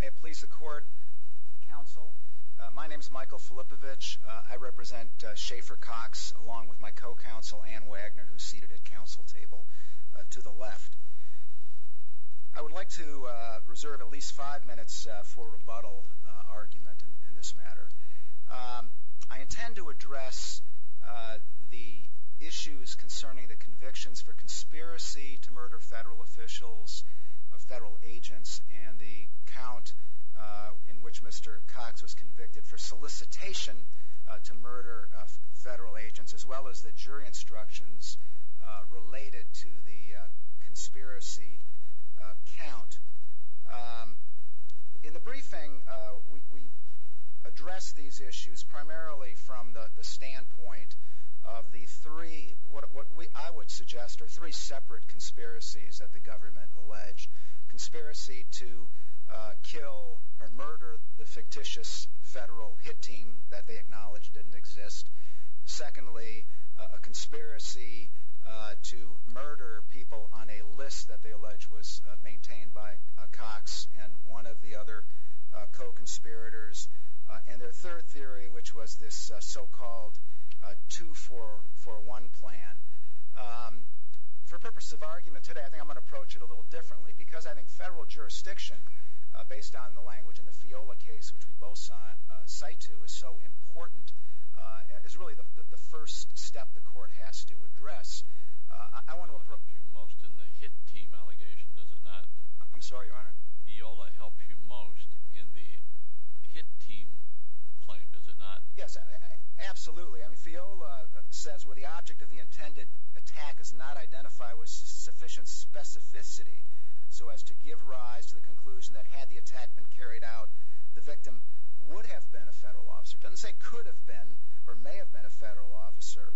May it please the court, counsel. My name is Michael Filippovich. I represent Schaefer Cox along with my co-counsel Ann Wagner who's seated at council table to the left. I would like to reserve at least five minutes for rebuttal argument in this matter. I intend to address the issues concerning the convictions for the count in which Mr. Cox was convicted for solicitation to murder of federal agents as well as the jury instructions related to the conspiracy count. In the briefing we address these issues primarily from the standpoint of the three, what I would suggest are three separate conspiracies that the murder of the fictitious federal hit team that they acknowledge didn't exist. Secondly, a conspiracy to murder people on a list that they allege was maintained by Cox and one of the other co-conspirators and their third theory which was this so-called two-for-one plan. For purpose of argument today I think I'm going to approach it a little differently because I think federal jurisdiction based on the language in the FIOLA case which we both cite to is so important as really the first step the court has to address. I want to approach you most in the hit team allegation does it not? I'm sorry your honor? FIOLA helps you most in the hit team claim does it not? Yes absolutely I mean FIOLA says where the object of the intended attack is not identified with to give rise to the conclusion that had the attack been carried out the victim would have been a federal officer doesn't say could have been or may have been a federal officer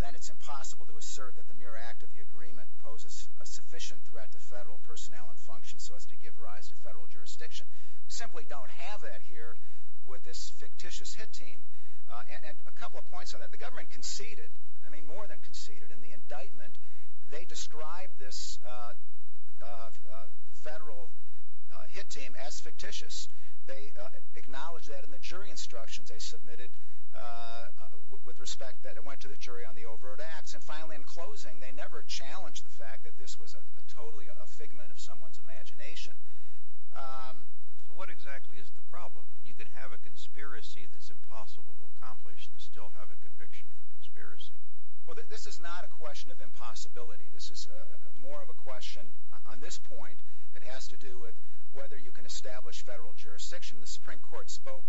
then it's impossible to assert that the mere act of the agreement poses a sufficient threat to federal personnel and function so as to give rise to federal jurisdiction. Simply don't have that here with this fictitious hit team and a couple of points on that the government conceded I mean more than conceded in the indictment they described this federal hit team as fictitious they acknowledged that in the jury instructions they submitted with respect that it went to the jury on the overt acts and finally in closing they never challenged the fact that this was a totally a figment of someone's imagination. What exactly is the problem and you can have a conspiracy that's impossible to accomplish and still have a conviction for conspiracy? Well this is not a question of impossibility this is more of a question on this point it has to do with whether you can establish federal jurisdiction the Supreme Court spoke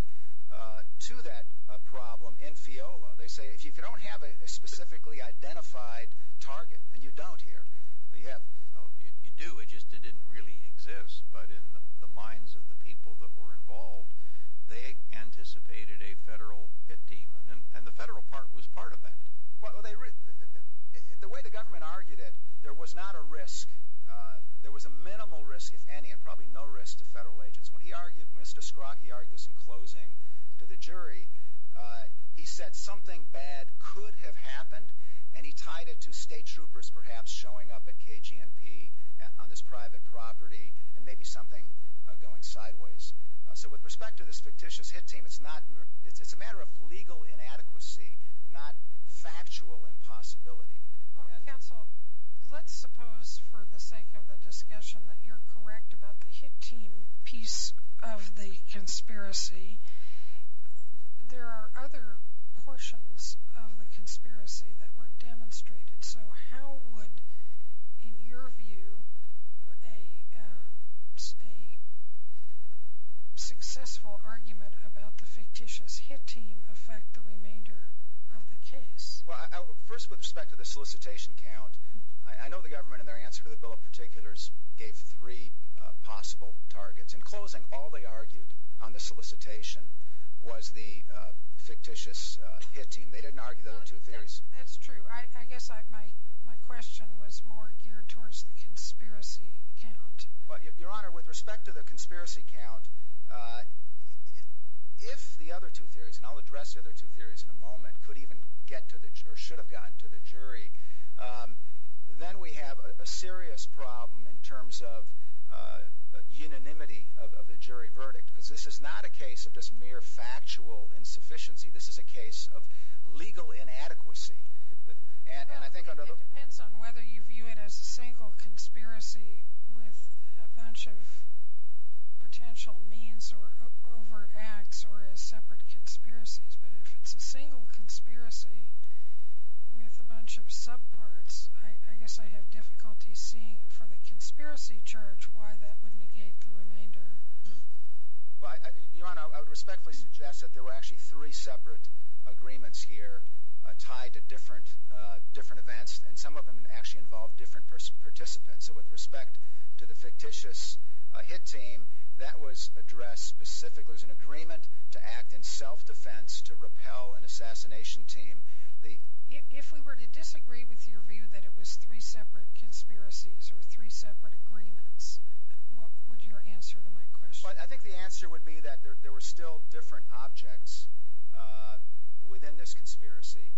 to that problem in Fiola they say if you don't have a specifically identified target and you don't here you have you do it just it didn't really exist but in the minds of the people that were involved they anticipated a federal hit team and the federal part was part of that. Well they the way the government argued it there was not a risk there was a minimal risk if any and probably no risk to federal agents when he argued Mr. Scrogg he argues in closing to the jury he said something bad could have happened and he tied it to state troopers perhaps showing up at KG&P on this private property and maybe something going sideways so with respect to this fictitious hit team it's not it's a matter of legal inadequacy not factual impossibility. Counsel let's suppose for the sake of the discussion that you're correct about the hit team piece of the conspiracy there are other portions of the conspiracy that were demonstrated so how would in your view a a successful argument about the fictitious hit team affect the remainder of the case? Well first with respect to the solicitation count I know the government in their answer to the bill of particulars gave three possible targets in closing all they argued on the solicitation was the fictitious hit team they didn't argue the two theories. That's true I guess I my my question was more geared towards the conspiracy count. Well your honor with respect to the conspiracy count if the other two theories and I'll address the other two theories in a moment could even get to the or should have gotten to the jury then we have a serious problem in terms of unanimity of the jury verdict because this is not a case of just mere factual insufficiency this is a case of legal it as a single conspiracy with a bunch of potential means or overt acts or as separate conspiracies but if it's a single conspiracy with a bunch of sub parts I guess I have difficulty seeing for the conspiracy charge why that would negate the remainder. Well your honor I would respectfully suggest that there were actually three separate agreements here tied to different different events and some of them actually involved different participants so with respect to the fictitious hit team that was addressed specifically as an agreement to act in self-defense to repel an assassination team. If we were to disagree with your view that it was three separate conspiracies or three separate agreements what would your answer to my question? I think the answer would be that there were still different objects within this conspiracy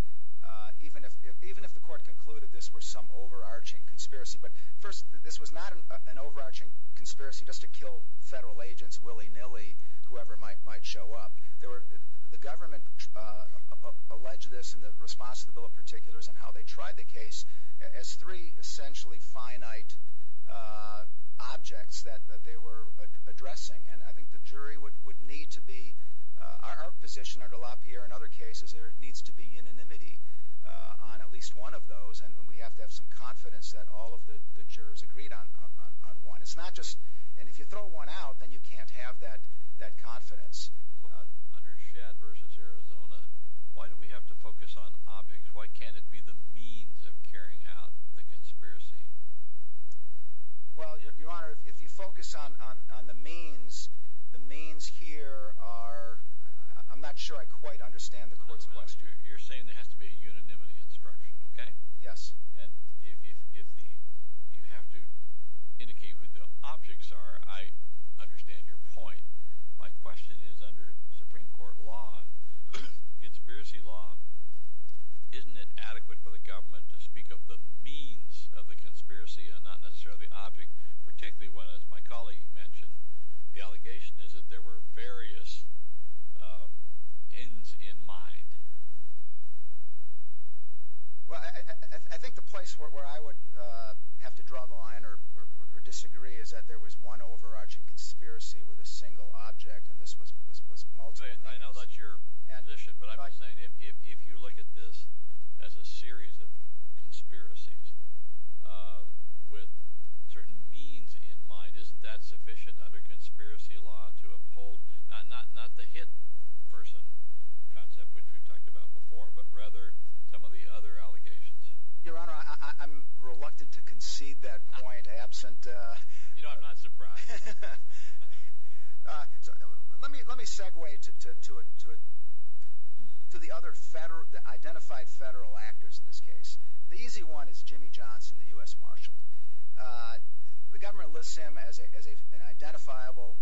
even if the court concluded this were some overarching conspiracy but first this was not an overarching conspiracy just to kill federal agents willy-nilly whoever might might show up there were the government alleged this in the response to the bill of particulars and how they tried the case as three essentially finite objects that they were addressing and I think the jury would would need to be our position under LaPierre in other cases there at least one of those and we have to have some confidence that all of the jurors agreed on on one it's not just and if you throw one out then you can't have that that confidence. Under Shad versus Arizona why do we have to focus on objects why can't it be the means of carrying out the conspiracy? Well your honor if you focus on on the means the means here are I'm not sure I quite understand the court's question. You're saying there has to be a unanimity instruction okay yes and if you have to indicate who the objects are I understand your point my question is under Supreme Court law conspiracy law isn't it adequate for the government to speak of the means of the conspiracy and not necessarily object particularly when as my colleague mentioned the allegation is that there were various ends in mind. Well I think the place where I would have to draw the line or disagree is that there was one overarching conspiracy with a single object and this was multiple means. I know that's your position but I'm saying if you look at this as a series of conspiracies with certain means in mind isn't that sufficient under conspiracy law to uphold not not not the hit person concept which we've talked about before but rather some of the other allegations. Your honor I'm reluctant to concede that point absent. You know I'm not surprised. Let me let me segue to it to it to the other federal identified federal actors in this case. The easy one is Jimmy Johnson the U.S. Marshal. The government lists him as an identifiable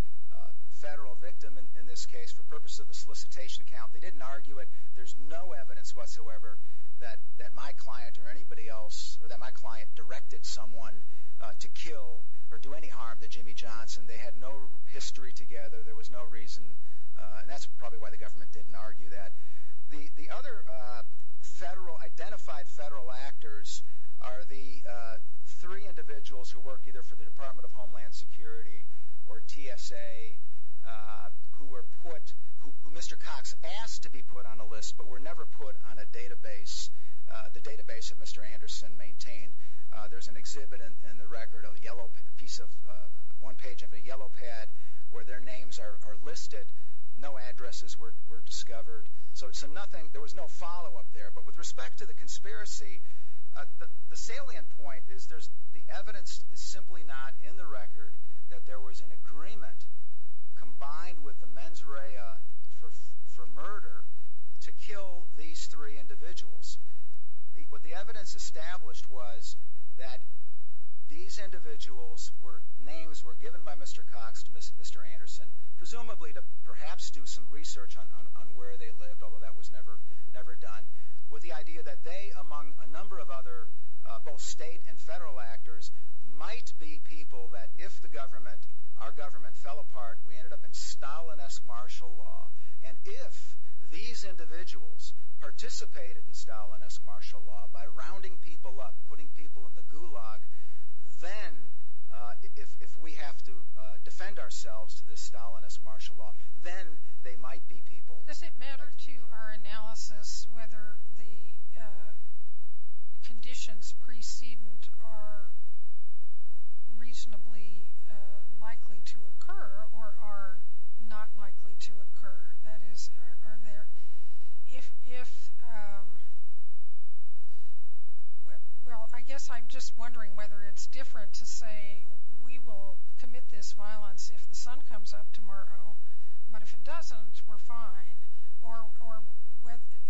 federal victim in this case for purpose of the solicitation count. They didn't argue it. There's no evidence whatsoever that that my client or anybody else or that my client directed someone to kill or do any harm to Jimmy Johnson. They had no history together. There was no reason and that's probably why the government didn't argue that. The the other federal identified federal actors are the three individuals who work either for the Department of Homeland Security or TSA who were put who Mr. Cox asked to be put on a list but were never put on a database. The database that Mr. Anderson maintained. There's an exhibit in the record a yellow piece of one page of a yellow pad where their names are listed. No addresses were discovered. So it's a nothing there was no follow-up there but with respect to the conspiracy the salient point is there's the evidence is simply not in the record that there was an agreement combined with the mens rea for for murder to kill these three individuals. What the evidence established was that these individuals were names were given by Mr. Cox to Mr. Anderson presumably to perhaps do some research on where they lived although that was never never done with the idea that they among a number of other both state and federal actors might be people that if the government our government fell apart we ended up in Stalinist martial law and if these individuals participated in Stalinist martial law by rounding people up putting people in the Stalinist martial law then they might be people. Does it matter to our analysis whether the conditions precedent are reasonably likely to occur or are not likely to occur that is are there if if well I guess I'm just wondering whether it's different to say we will commit this violence if the sun comes up tomorrow but if it doesn't we're fine or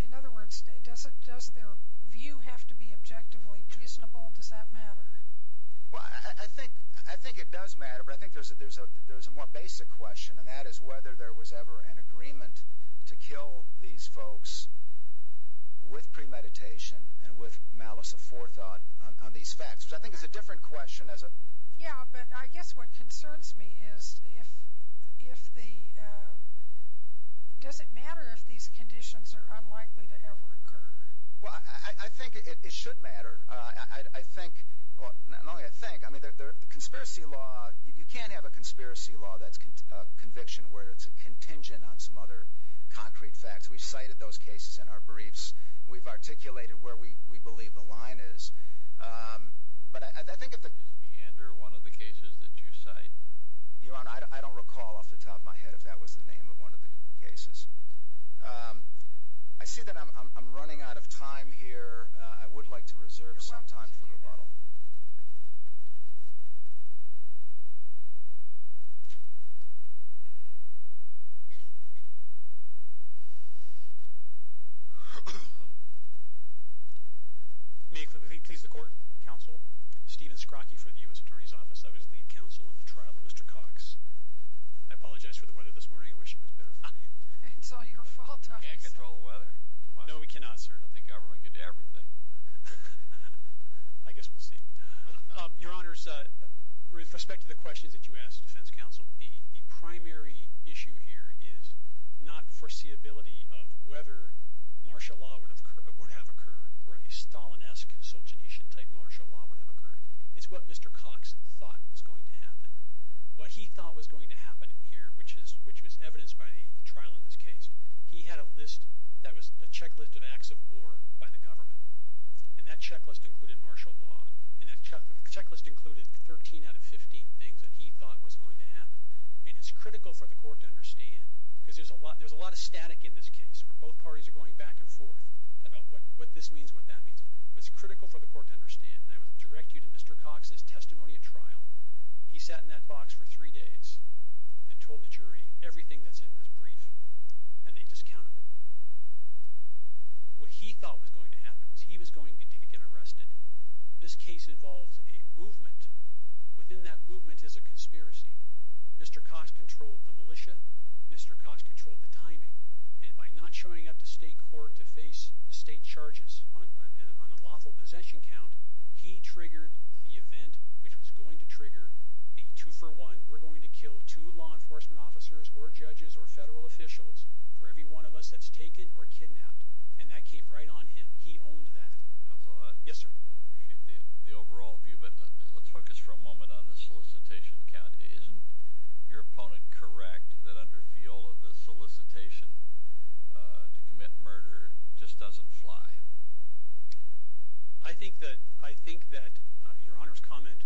in other words does it just their view have to be objectively reasonable does that matter? Well I think I think it does matter but I think there's a there's a there's a more basic question and that is whether there was ever an agreement to kill these folks with premeditation and with malice of forethought on these facts but I think it's a different question as a yeah but I guess what concerns me is if if the does it matter if these conditions are unlikely to ever occur well I think it should matter I think well not only I think I mean they're the conspiracy law you can't have a conspiracy law that's conviction where it's a contingent on some other concrete facts we cited those cases in our briefs we've articulated where we we believe the line is but I think if the ender one of the cases that you cite your honor I don't recall off the top of my head if that was the name of one of the cases I see that I'm running out of time here I would like to reserve some time for rebuttal please the court counsel Stephen Scroggie for the US Attorney's Office of his lead counsel in the trial of mr. Cox I apologize for the weather this morning I wish it was better for you no we cannot sir the government could do everything I guess we'll see your honors with respect to the questions that you asked defense counsel the the primary issue here is not foreseeability of whether martial law would have occurred or a Stalinesque Solzhenitsyn type martial law would have occurred it's what mr. Cox thought was going to happen what he thought was going to happen in here which is which was evidenced by the trial in this case he had a list that was a checklist of acts of war by the government and that checklist included martial law and that checklist included 13 out of 15 things that he thought was going to happen and it's critical for the court to understand because there's a lot there's a lot of static in this case for both parties are going back and forth about what what this means what that means was critical for the court to understand and I would direct you to mr. Cox's testimony at trial he sat in that box for three days and told the jury everything that's in this brief and they discounted it what he thought was going to happen was he was going to get arrested this case involves a movement within that movement is a conspiracy mr. Cox controlled the not showing up to state court to face state charges on unlawful possession count he triggered the event which was going to trigger the two-for-one we're going to kill two law enforcement officers or judges or federal officials for every one of us that's taken or kidnapped and that came right on him he owned that yes sir the overall view but let's focus for a moment on the solicitation count isn't your opponent correct that under Fiola the to commit murder just doesn't fly I think that I think that your honor's comment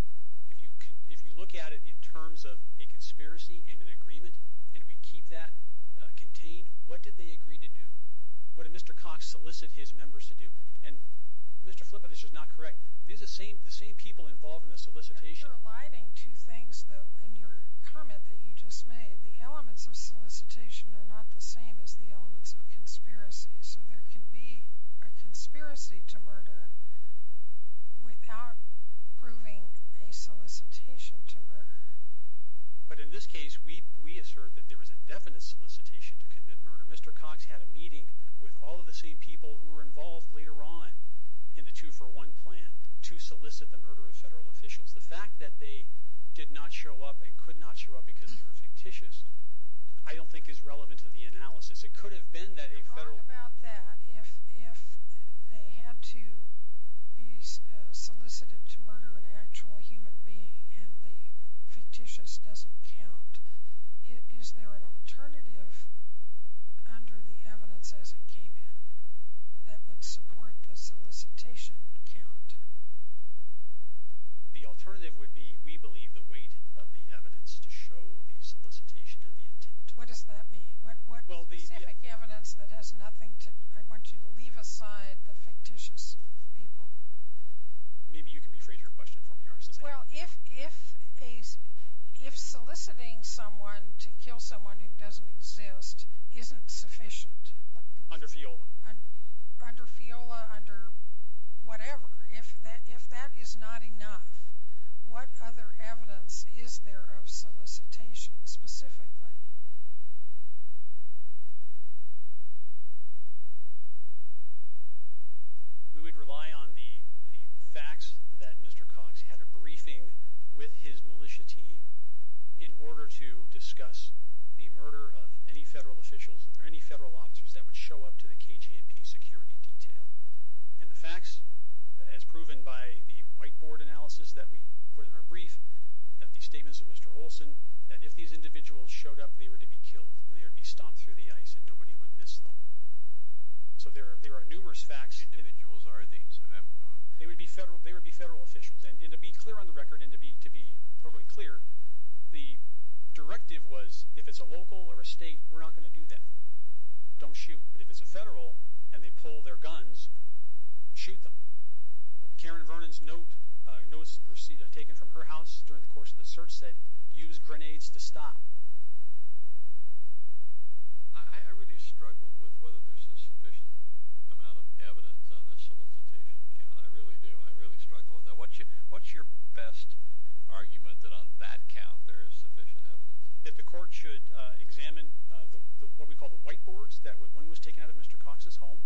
if you can if you look at it in terms of a conspiracy and an agreement and we keep that contained what did they agree to do what did mr. Cox solicit his members to do and mr. Flippen is just not correct these are same the same people involved in the solicitation lighting two things though in your comment that you just made the elements of solicitation are not the same as the elements of conspiracy so there can be a conspiracy to murder without proving a solicitation to murder but in this case we we assert that there was a definite solicitation to commit murder mr. Cox had a meeting with all of the same people who were involved later on in the two-for-one plan to solicit the murder of federal officials the fact that they did not show up and could not show up I don't think is relevant to the analysis it could have been that if they had to be solicited to murder an actual human being and the fictitious doesn't count is there an alternative under the evidence as it came in that would support the solicitation count the alternative would be we believe the evidence to show the solicitation and the intent what does that mean what well the evidence that has nothing to I want you to leave aside the fictitious people maybe you can rephrase your question for me or since well if if a if soliciting someone to kill someone who doesn't exist isn't sufficient under Fiola and under Fiola under whatever if that if that is not enough what other evidence is there of solicitation specifically we would rely on the the facts that mr. Cox had a briefing with his militia team in order to discuss the murder of any federal officials that there any federal officers that would show up to the KG&P security detail and the facts as proven by the whiteboard analysis that we put in our brief that the statements of mr. Olson that if these individuals showed up they were to be killed and they would be stomped through the ice and nobody would miss them so there are numerous facts individuals are these they would be federal they would be federal officials and to be clear on the record and to be to be totally clear the directive was if it's a local or a state we're not going to do that don't shoot but if it's a federal and they pull their guns shoot them Karen Vernon's note notice receipt I've taken from her house during the course of the search said use grenades to stop I really struggle with whether there's a sufficient amount of evidence on this solicitation count I really do I really struggle with that what you what's your best argument that on that count there is sufficient evidence that the court should examine the what we call the whiteboards that was when was taken out of mr. Cox's home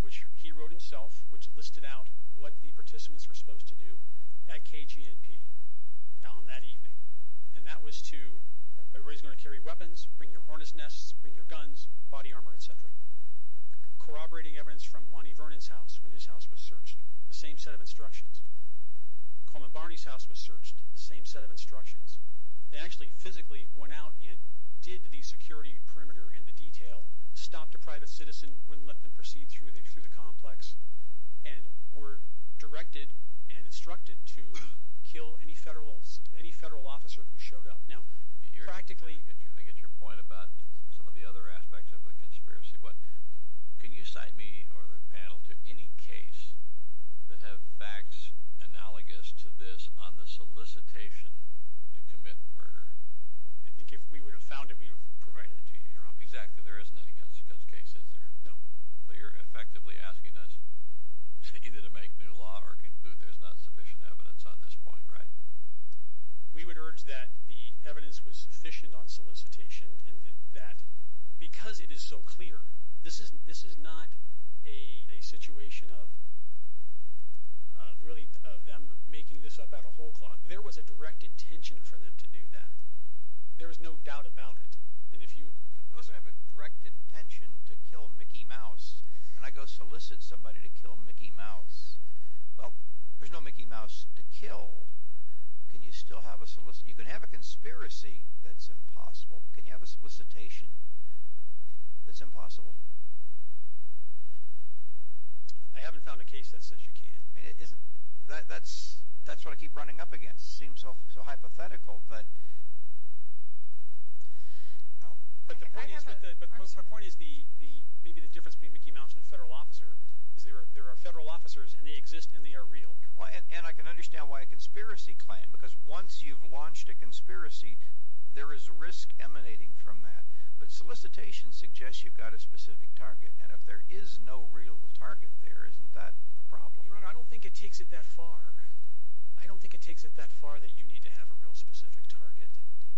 which he wrote himself which listed out what the participants were supposed to do at KG&P on that evening and that was to everybody's going to carry weapons bring your harness nests bring your guns body armor etc corroborating evidence from Lonnie Vernon's house when his house was searched the same set of instructions Coleman Barney's house was searched the same set of instructions they actually physically went out and did the security perimeter and the detail stopped a private citizen wouldn't let them proceed through the through the complex and were directed and instructed to kill any federal any federal officer who showed up now you're practically I get your point about some of the other aspects of the conspiracy but can you cite me or the panel to any case that I think if we would have found it we would provide it to you exactly there isn't any guts because case is there no but you're effectively asking us either to make new law or conclude there's not sufficient evidence on this point right we would urge that the evidence was sufficient on solicitation and that because it is so clear this isn't this is not a situation of really of them making this up out of whole cloth there was a direct intention for them to do that there was no doubt about it and if you have a direct intention to kill Mickey Mouse and I go solicit somebody to kill Mickey Mouse well there's no Mickey Mouse to kill can you still have a solicit you can have a conspiracy that's impossible can you have a solicitation that's impossible I haven't found a case that says you can't that's that's what I keep running up against seems so hypothetical but maybe the difference between Mickey Mouse and a federal officer is there there are federal officers and they exist and they are real well and I can understand why a conspiracy claim because once you've launched a conspiracy there is risk emanating from that but solicitation suggests you've got a specific target and if there is no real target there isn't that a problem I don't think it takes it that far I don't think it takes it that far that you need to have a real specific target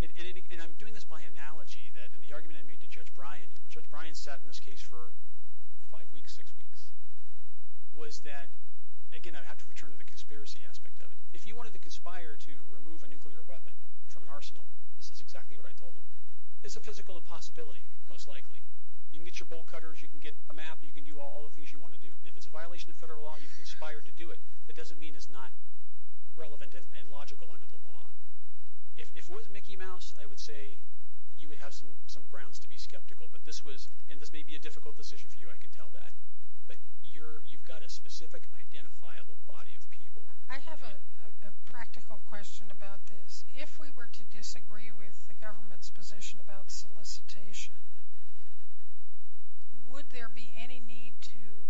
and I'm doing this by analogy that in the argument I made to judge Brian which judge Brian sat in this case for five weeks six weeks was that again I have to return to the conspiracy aspect of it if you wanted to conspire to remove a nuclear weapon from an arsenal this is exactly what I told them it's a physical impossibility most likely you can get your bowl cutters you can get a map you can do all the things you want to do if it's a violation of federal law you conspired to do it that mean is not relevant and logical under the law if it was Mickey Mouse I would say you would have some some grounds to be skeptical but this was and this may be a difficult decision for you I can tell that but you're you've got a specific identifiable body of people I have a practical question about this if we were to disagree with the government's position about solicitation would there be any need to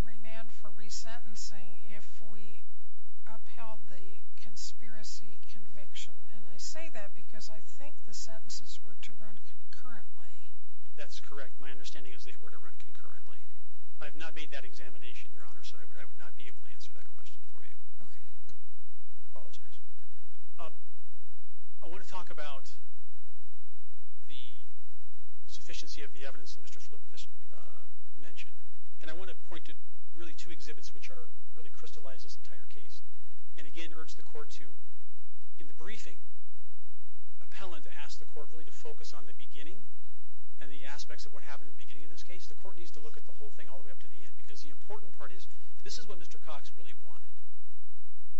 remand for resentencing if we upheld the conspiracy conviction and I say that because I think the sentences were to run concurrently that's correct my understanding is they were to run concurrently I have not made that examination your honor so I would not be able to answer that question for you okay I want to talk about the sufficiency of the evidence in mr. mention and I want to point to really two exhibits which are really crystallized this entire case and again urge the court to in the briefing appellant asked the court really to focus on the beginning and the aspects of what happened in the beginning of this case the court needs to look at the whole thing all the way up to the end because the important part is this is what mr. Cox really wanted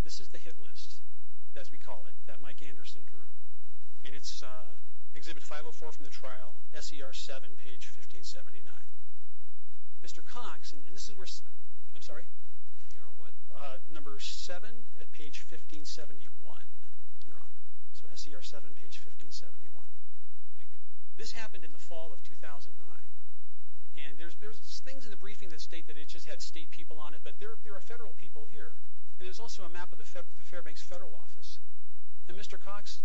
this is the hit list as we call it that Mike for from the trial SCR 7 page 1579 mr. Cox and this is where I'm sorry number 7 at page 1571 your honor so SCR 7 page 1571 thank you this happened in the fall of 2009 and there's there's things in the briefing that state that it just had state people on it but there are federal people here and there's also a map of the Fairbanks federal office and mr. Cox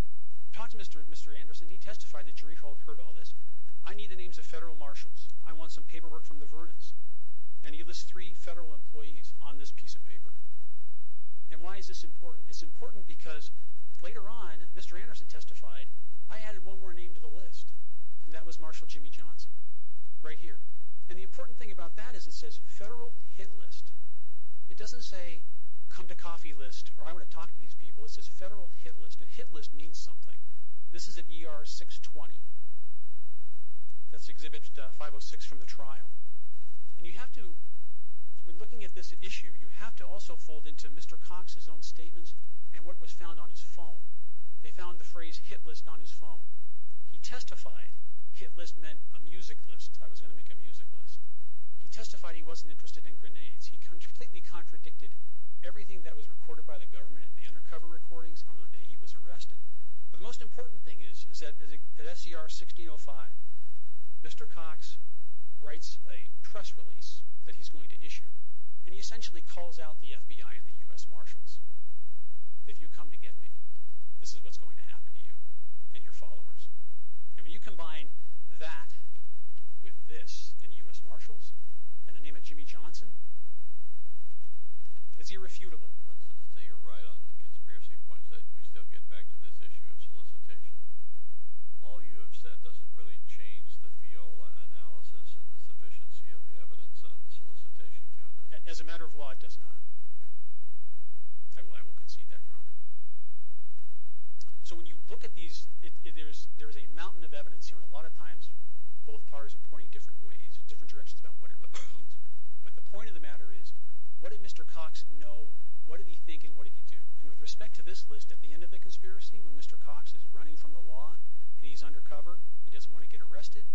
talked to mr. mr. Anderson he testified that jury fault heard all this I need the names of federal marshals I want some paperwork from the Vernon's and he lists three federal employees on this piece of paper and why is this important it's important because later on mr. Anderson testified I added one more name to the list and that was marshal Jimmy Johnson right here and the important thing about that is it says federal hit list it doesn't say come to coffee list or I want to talk to these people it er 620 that's exhibited 506 from the trial and you have to when looking at this issue you have to also fold into mr. Cox his own statements and what was found on his phone they found the phrase hit list on his phone he testified hit list meant a music list I was going to make a music list he testified he wasn't interested in grenades he completely contradicted everything that was recorded by the government and the undercover recordings on the day he was arrested but the most important thing is is that SCR 1605 mr. Cox writes a press release that he's going to issue and he essentially calls out the FBI and the US Marshals if you come to get me this is what's going to happen to you and your followers and when you combine that with this and US Marshals and the name of Jimmy Johnson it's irrefutable to this issue of solicitation all you have said doesn't really change the fiola analysis and the sufficiency of the evidence on the solicitation count as a matter of law it does not I will concede that your honor so when you look at these if there's there is a mountain of evidence here and a lot of times both parties are pointing different ways different directions about what it really means but the point of the matter is what did mr. Cox know what did he think and what did he do and with respect to this list at the end of the conspiracy when mr. Cox is running from the law and he's undercover he doesn't want to get arrested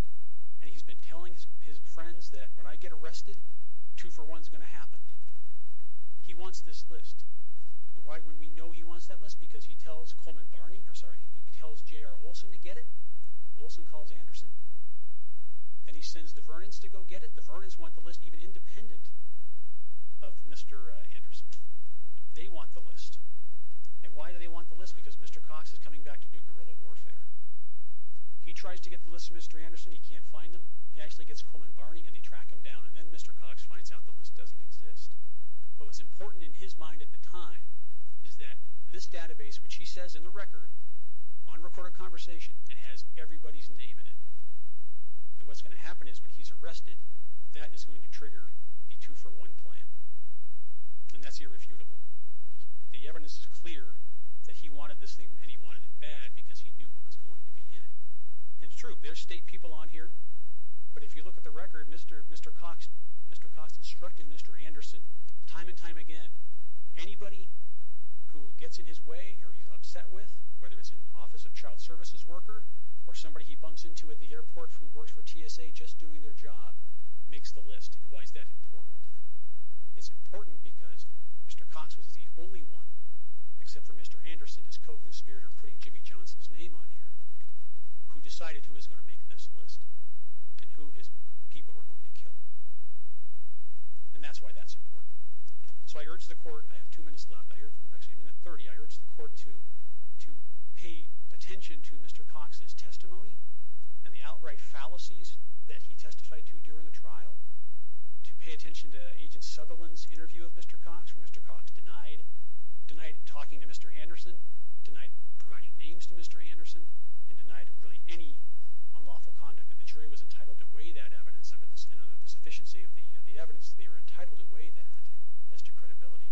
and he's been telling his friends that when I get arrested two for one is gonna happen he wants this list why when we know he wants that list because he tells Coleman Barney or sorry he tells J.R. Olson to get it Olson calls Anderson then he sends the Vernon's to go get it the Vernon's want the list even independent of mr. Anderson they want the list and why do they want the list because mr. Cox is coming back to do guerrilla warfare he tries to get the list mr. Anderson he can't find them he actually gets Coleman Barney and they track him down and then mr. Cox finds out the list doesn't exist what was important in his mind at the time is that this database which he says in the record on recorded conversation it has everybody's name in it and what's gonna happen is when he's arrested that is going to trigger the two-for-one plan and that's irrefutable the evidence is clear that he wanted this thing and he wanted it bad because he knew what was going to be in it and it's true there's state people on here but if you look at the record mr. mr. Cox mr. Cox instructed mr. Anderson time and time again anybody who gets in his way or he's upset with whether it's an office of child services worker or somebody he bumps into at the airport who works for why is that important it's important because mr. Cox was the only one except for mr. Anderson his co-conspirator putting Jimmy Johnson's name on here who decided who is going to make this list and who his people were going to kill and that's why that's important so I urge the court I have two minutes left I urge them actually a minute 30 I urge the court to to pay attention to mr. Cox's testimony and the outright fallacies that he testified to during the trial to pay attention to agent Sutherland's interview of mr. Cox from mr. Cox denied denied talking to mr. Anderson tonight providing names to mr. Anderson and denied really any unlawful conduct and the jury was entitled to weigh that evidence under this you know the sufficiency of the the evidence they were entitled to weigh that as to credibility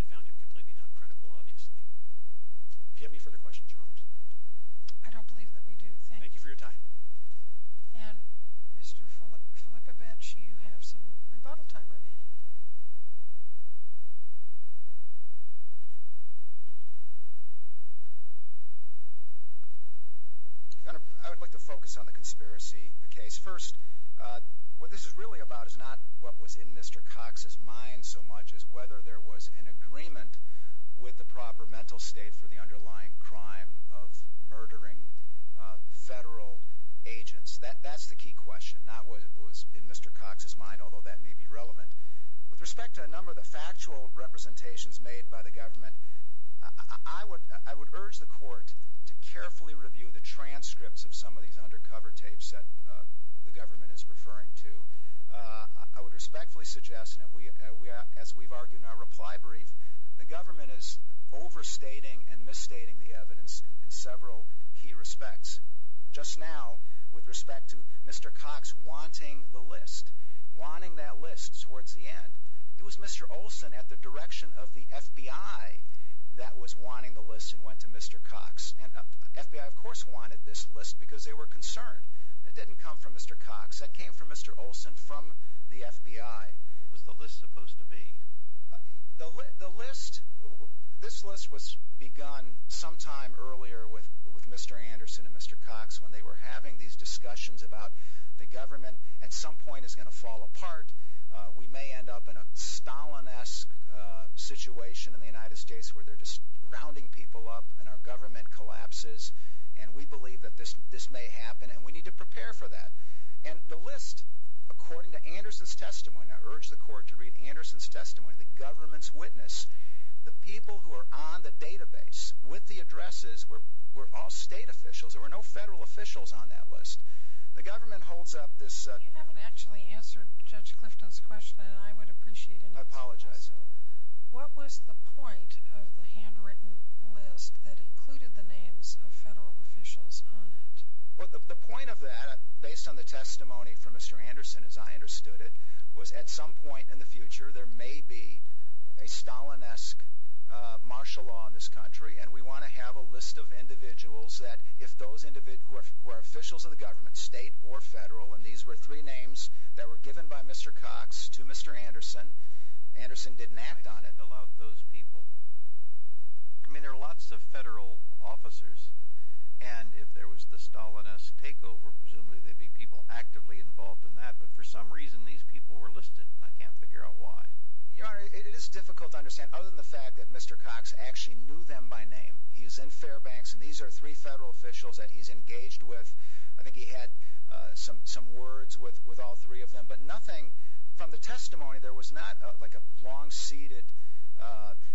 and found him completely not credible obviously if you have any further questions your honors I don't bet you have some rebuttal time remaining I would like to focus on the conspiracy the case first what this is really about is not what was in mr. Cox's mind so much as whether there was an agreement with the proper mental state for the underlying crime of murdering federal agents that that's the key question not what it was in mr. Cox's mind although that may be relevant with respect to a number of the factual representations made by the government I would I would urge the court to carefully review the transcripts of some of these undercover tapes that the government is referring to I would respectfully suggest and we as we've argued in our reply brief the government is overstating and misstating the evidence in several key respects just now with respect to mr. Cox wanting the list wanting that list towards the end it was mr. Olson at the direction of the FBI that was wanting the list and went to mr. Cox and FBI of course wanted this list because they were concerned that didn't come from mr. Cox that came from mr. Olson from the FBI was the list supposed to be the list this list was begun sometime earlier with mr. Anderson and mr. Cox when they were having these discussions about the government at some point is going to fall apart we may end up in a Stalin esque situation in the United States where they're just rounding people up and our government collapses and we believe that this this may happen and we need to prepare for that and the list according to Anderson's testimony now urge the court to read Anderson's testimony the government's witness the people who are on the database with the addresses where we're all state officials there were no federal officials on that list the government holds up this actually answered judge Clifton's question and I would appreciate it I apologize so what was the point of the handwritten list that included the names of federal officials on it well the point of that based on the testimony from mr. Anderson as I understood it was at some point in the martial law in this country and we want to have a list of individuals that if those individuals were officials of the government state or federal and these were three names that were given by mr. Cox to mr. Anderson Anderson didn't act on it allow those people I mean there are lots of federal officers and if there was the Stalinist takeover presumably they'd be people actively involved in that but for some reason these people were listed and I can't understand other than the fact that mr. Cox actually knew them by name he's in Fairbanks and these are three federal officials that he's engaged with I think he had some some words with with all three of them but nothing from the testimony there was not like a long-seated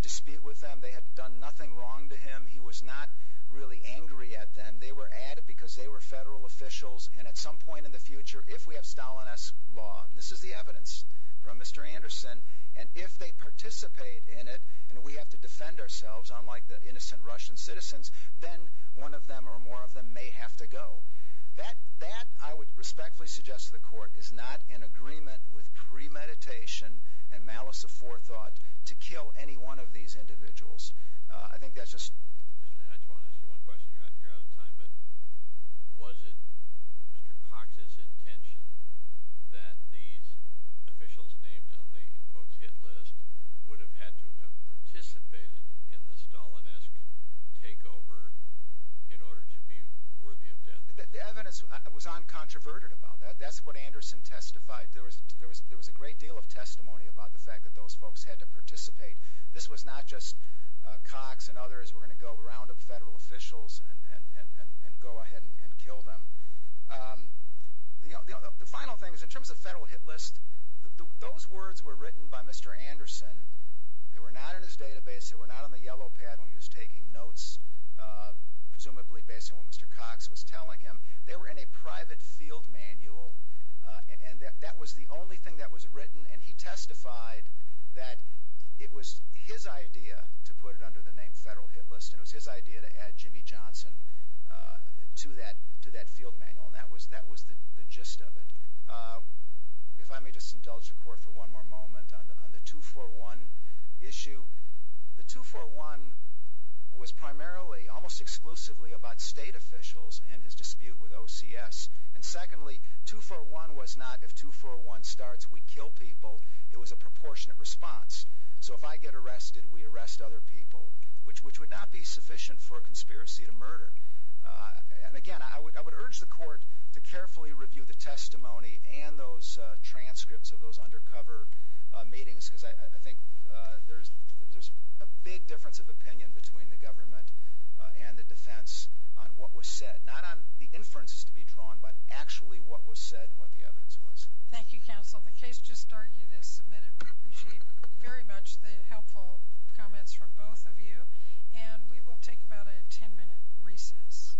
dispute with them they had done nothing wrong to him he was not really angry at them they were added because they were federal officials and at some point in the future if we have this is the evidence from mr. Anderson and if they participate in it and we have to defend ourselves unlike the innocent Russian citizens then one of them or more of them may have to go that that I would respectfully suggest the court is not in agreement with premeditation and malice of forethought to kill any one of these individuals I think that's just I just want to ask you one question you're out of time but was it mr. Cox's intention that these officials named on the in quotes hit list would have had to have participated in the Stalinist takeover in order to be worthy of death the evidence I was on controverted about that that's what Anderson testified there was there was there was a great deal of testimony about the fact that those folks had to participate this was not just Cox and others were going to go around of federal officials and and and go ahead and kill them you know the final thing is in terms of federal hit list those words were written by mr. Anderson they were not in his database they were not on the yellow pad when he was taking notes presumably based on what mr. Cox was telling him they were in a private field manual and that was the only thing that was written and he testified that it was his idea to put it under the name federal hit list and it was his idea to add Jimmy Johnson to that to that field manual and that was that was the the gist of it if I may just indulge the court for one more moment on the 241 issue the 241 was primarily almost exclusively about state officials and his dispute with OCS and secondly 241 was not if 241 starts we kill people it was a proportionate response so if I get arrested we arrest other people which which would not be sufficient for a conspiracy to murder and again I would I would urge the court to carefully review the testimony and those transcripts of those undercover meetings because I think there's there's a big difference of opinion between the government and the defense on what was said not on the inferences to be drawn but actually what was said and what the evidence was thank you counsel the case just started is submitted very much the comments from both of you and we will take about a 10-minute recess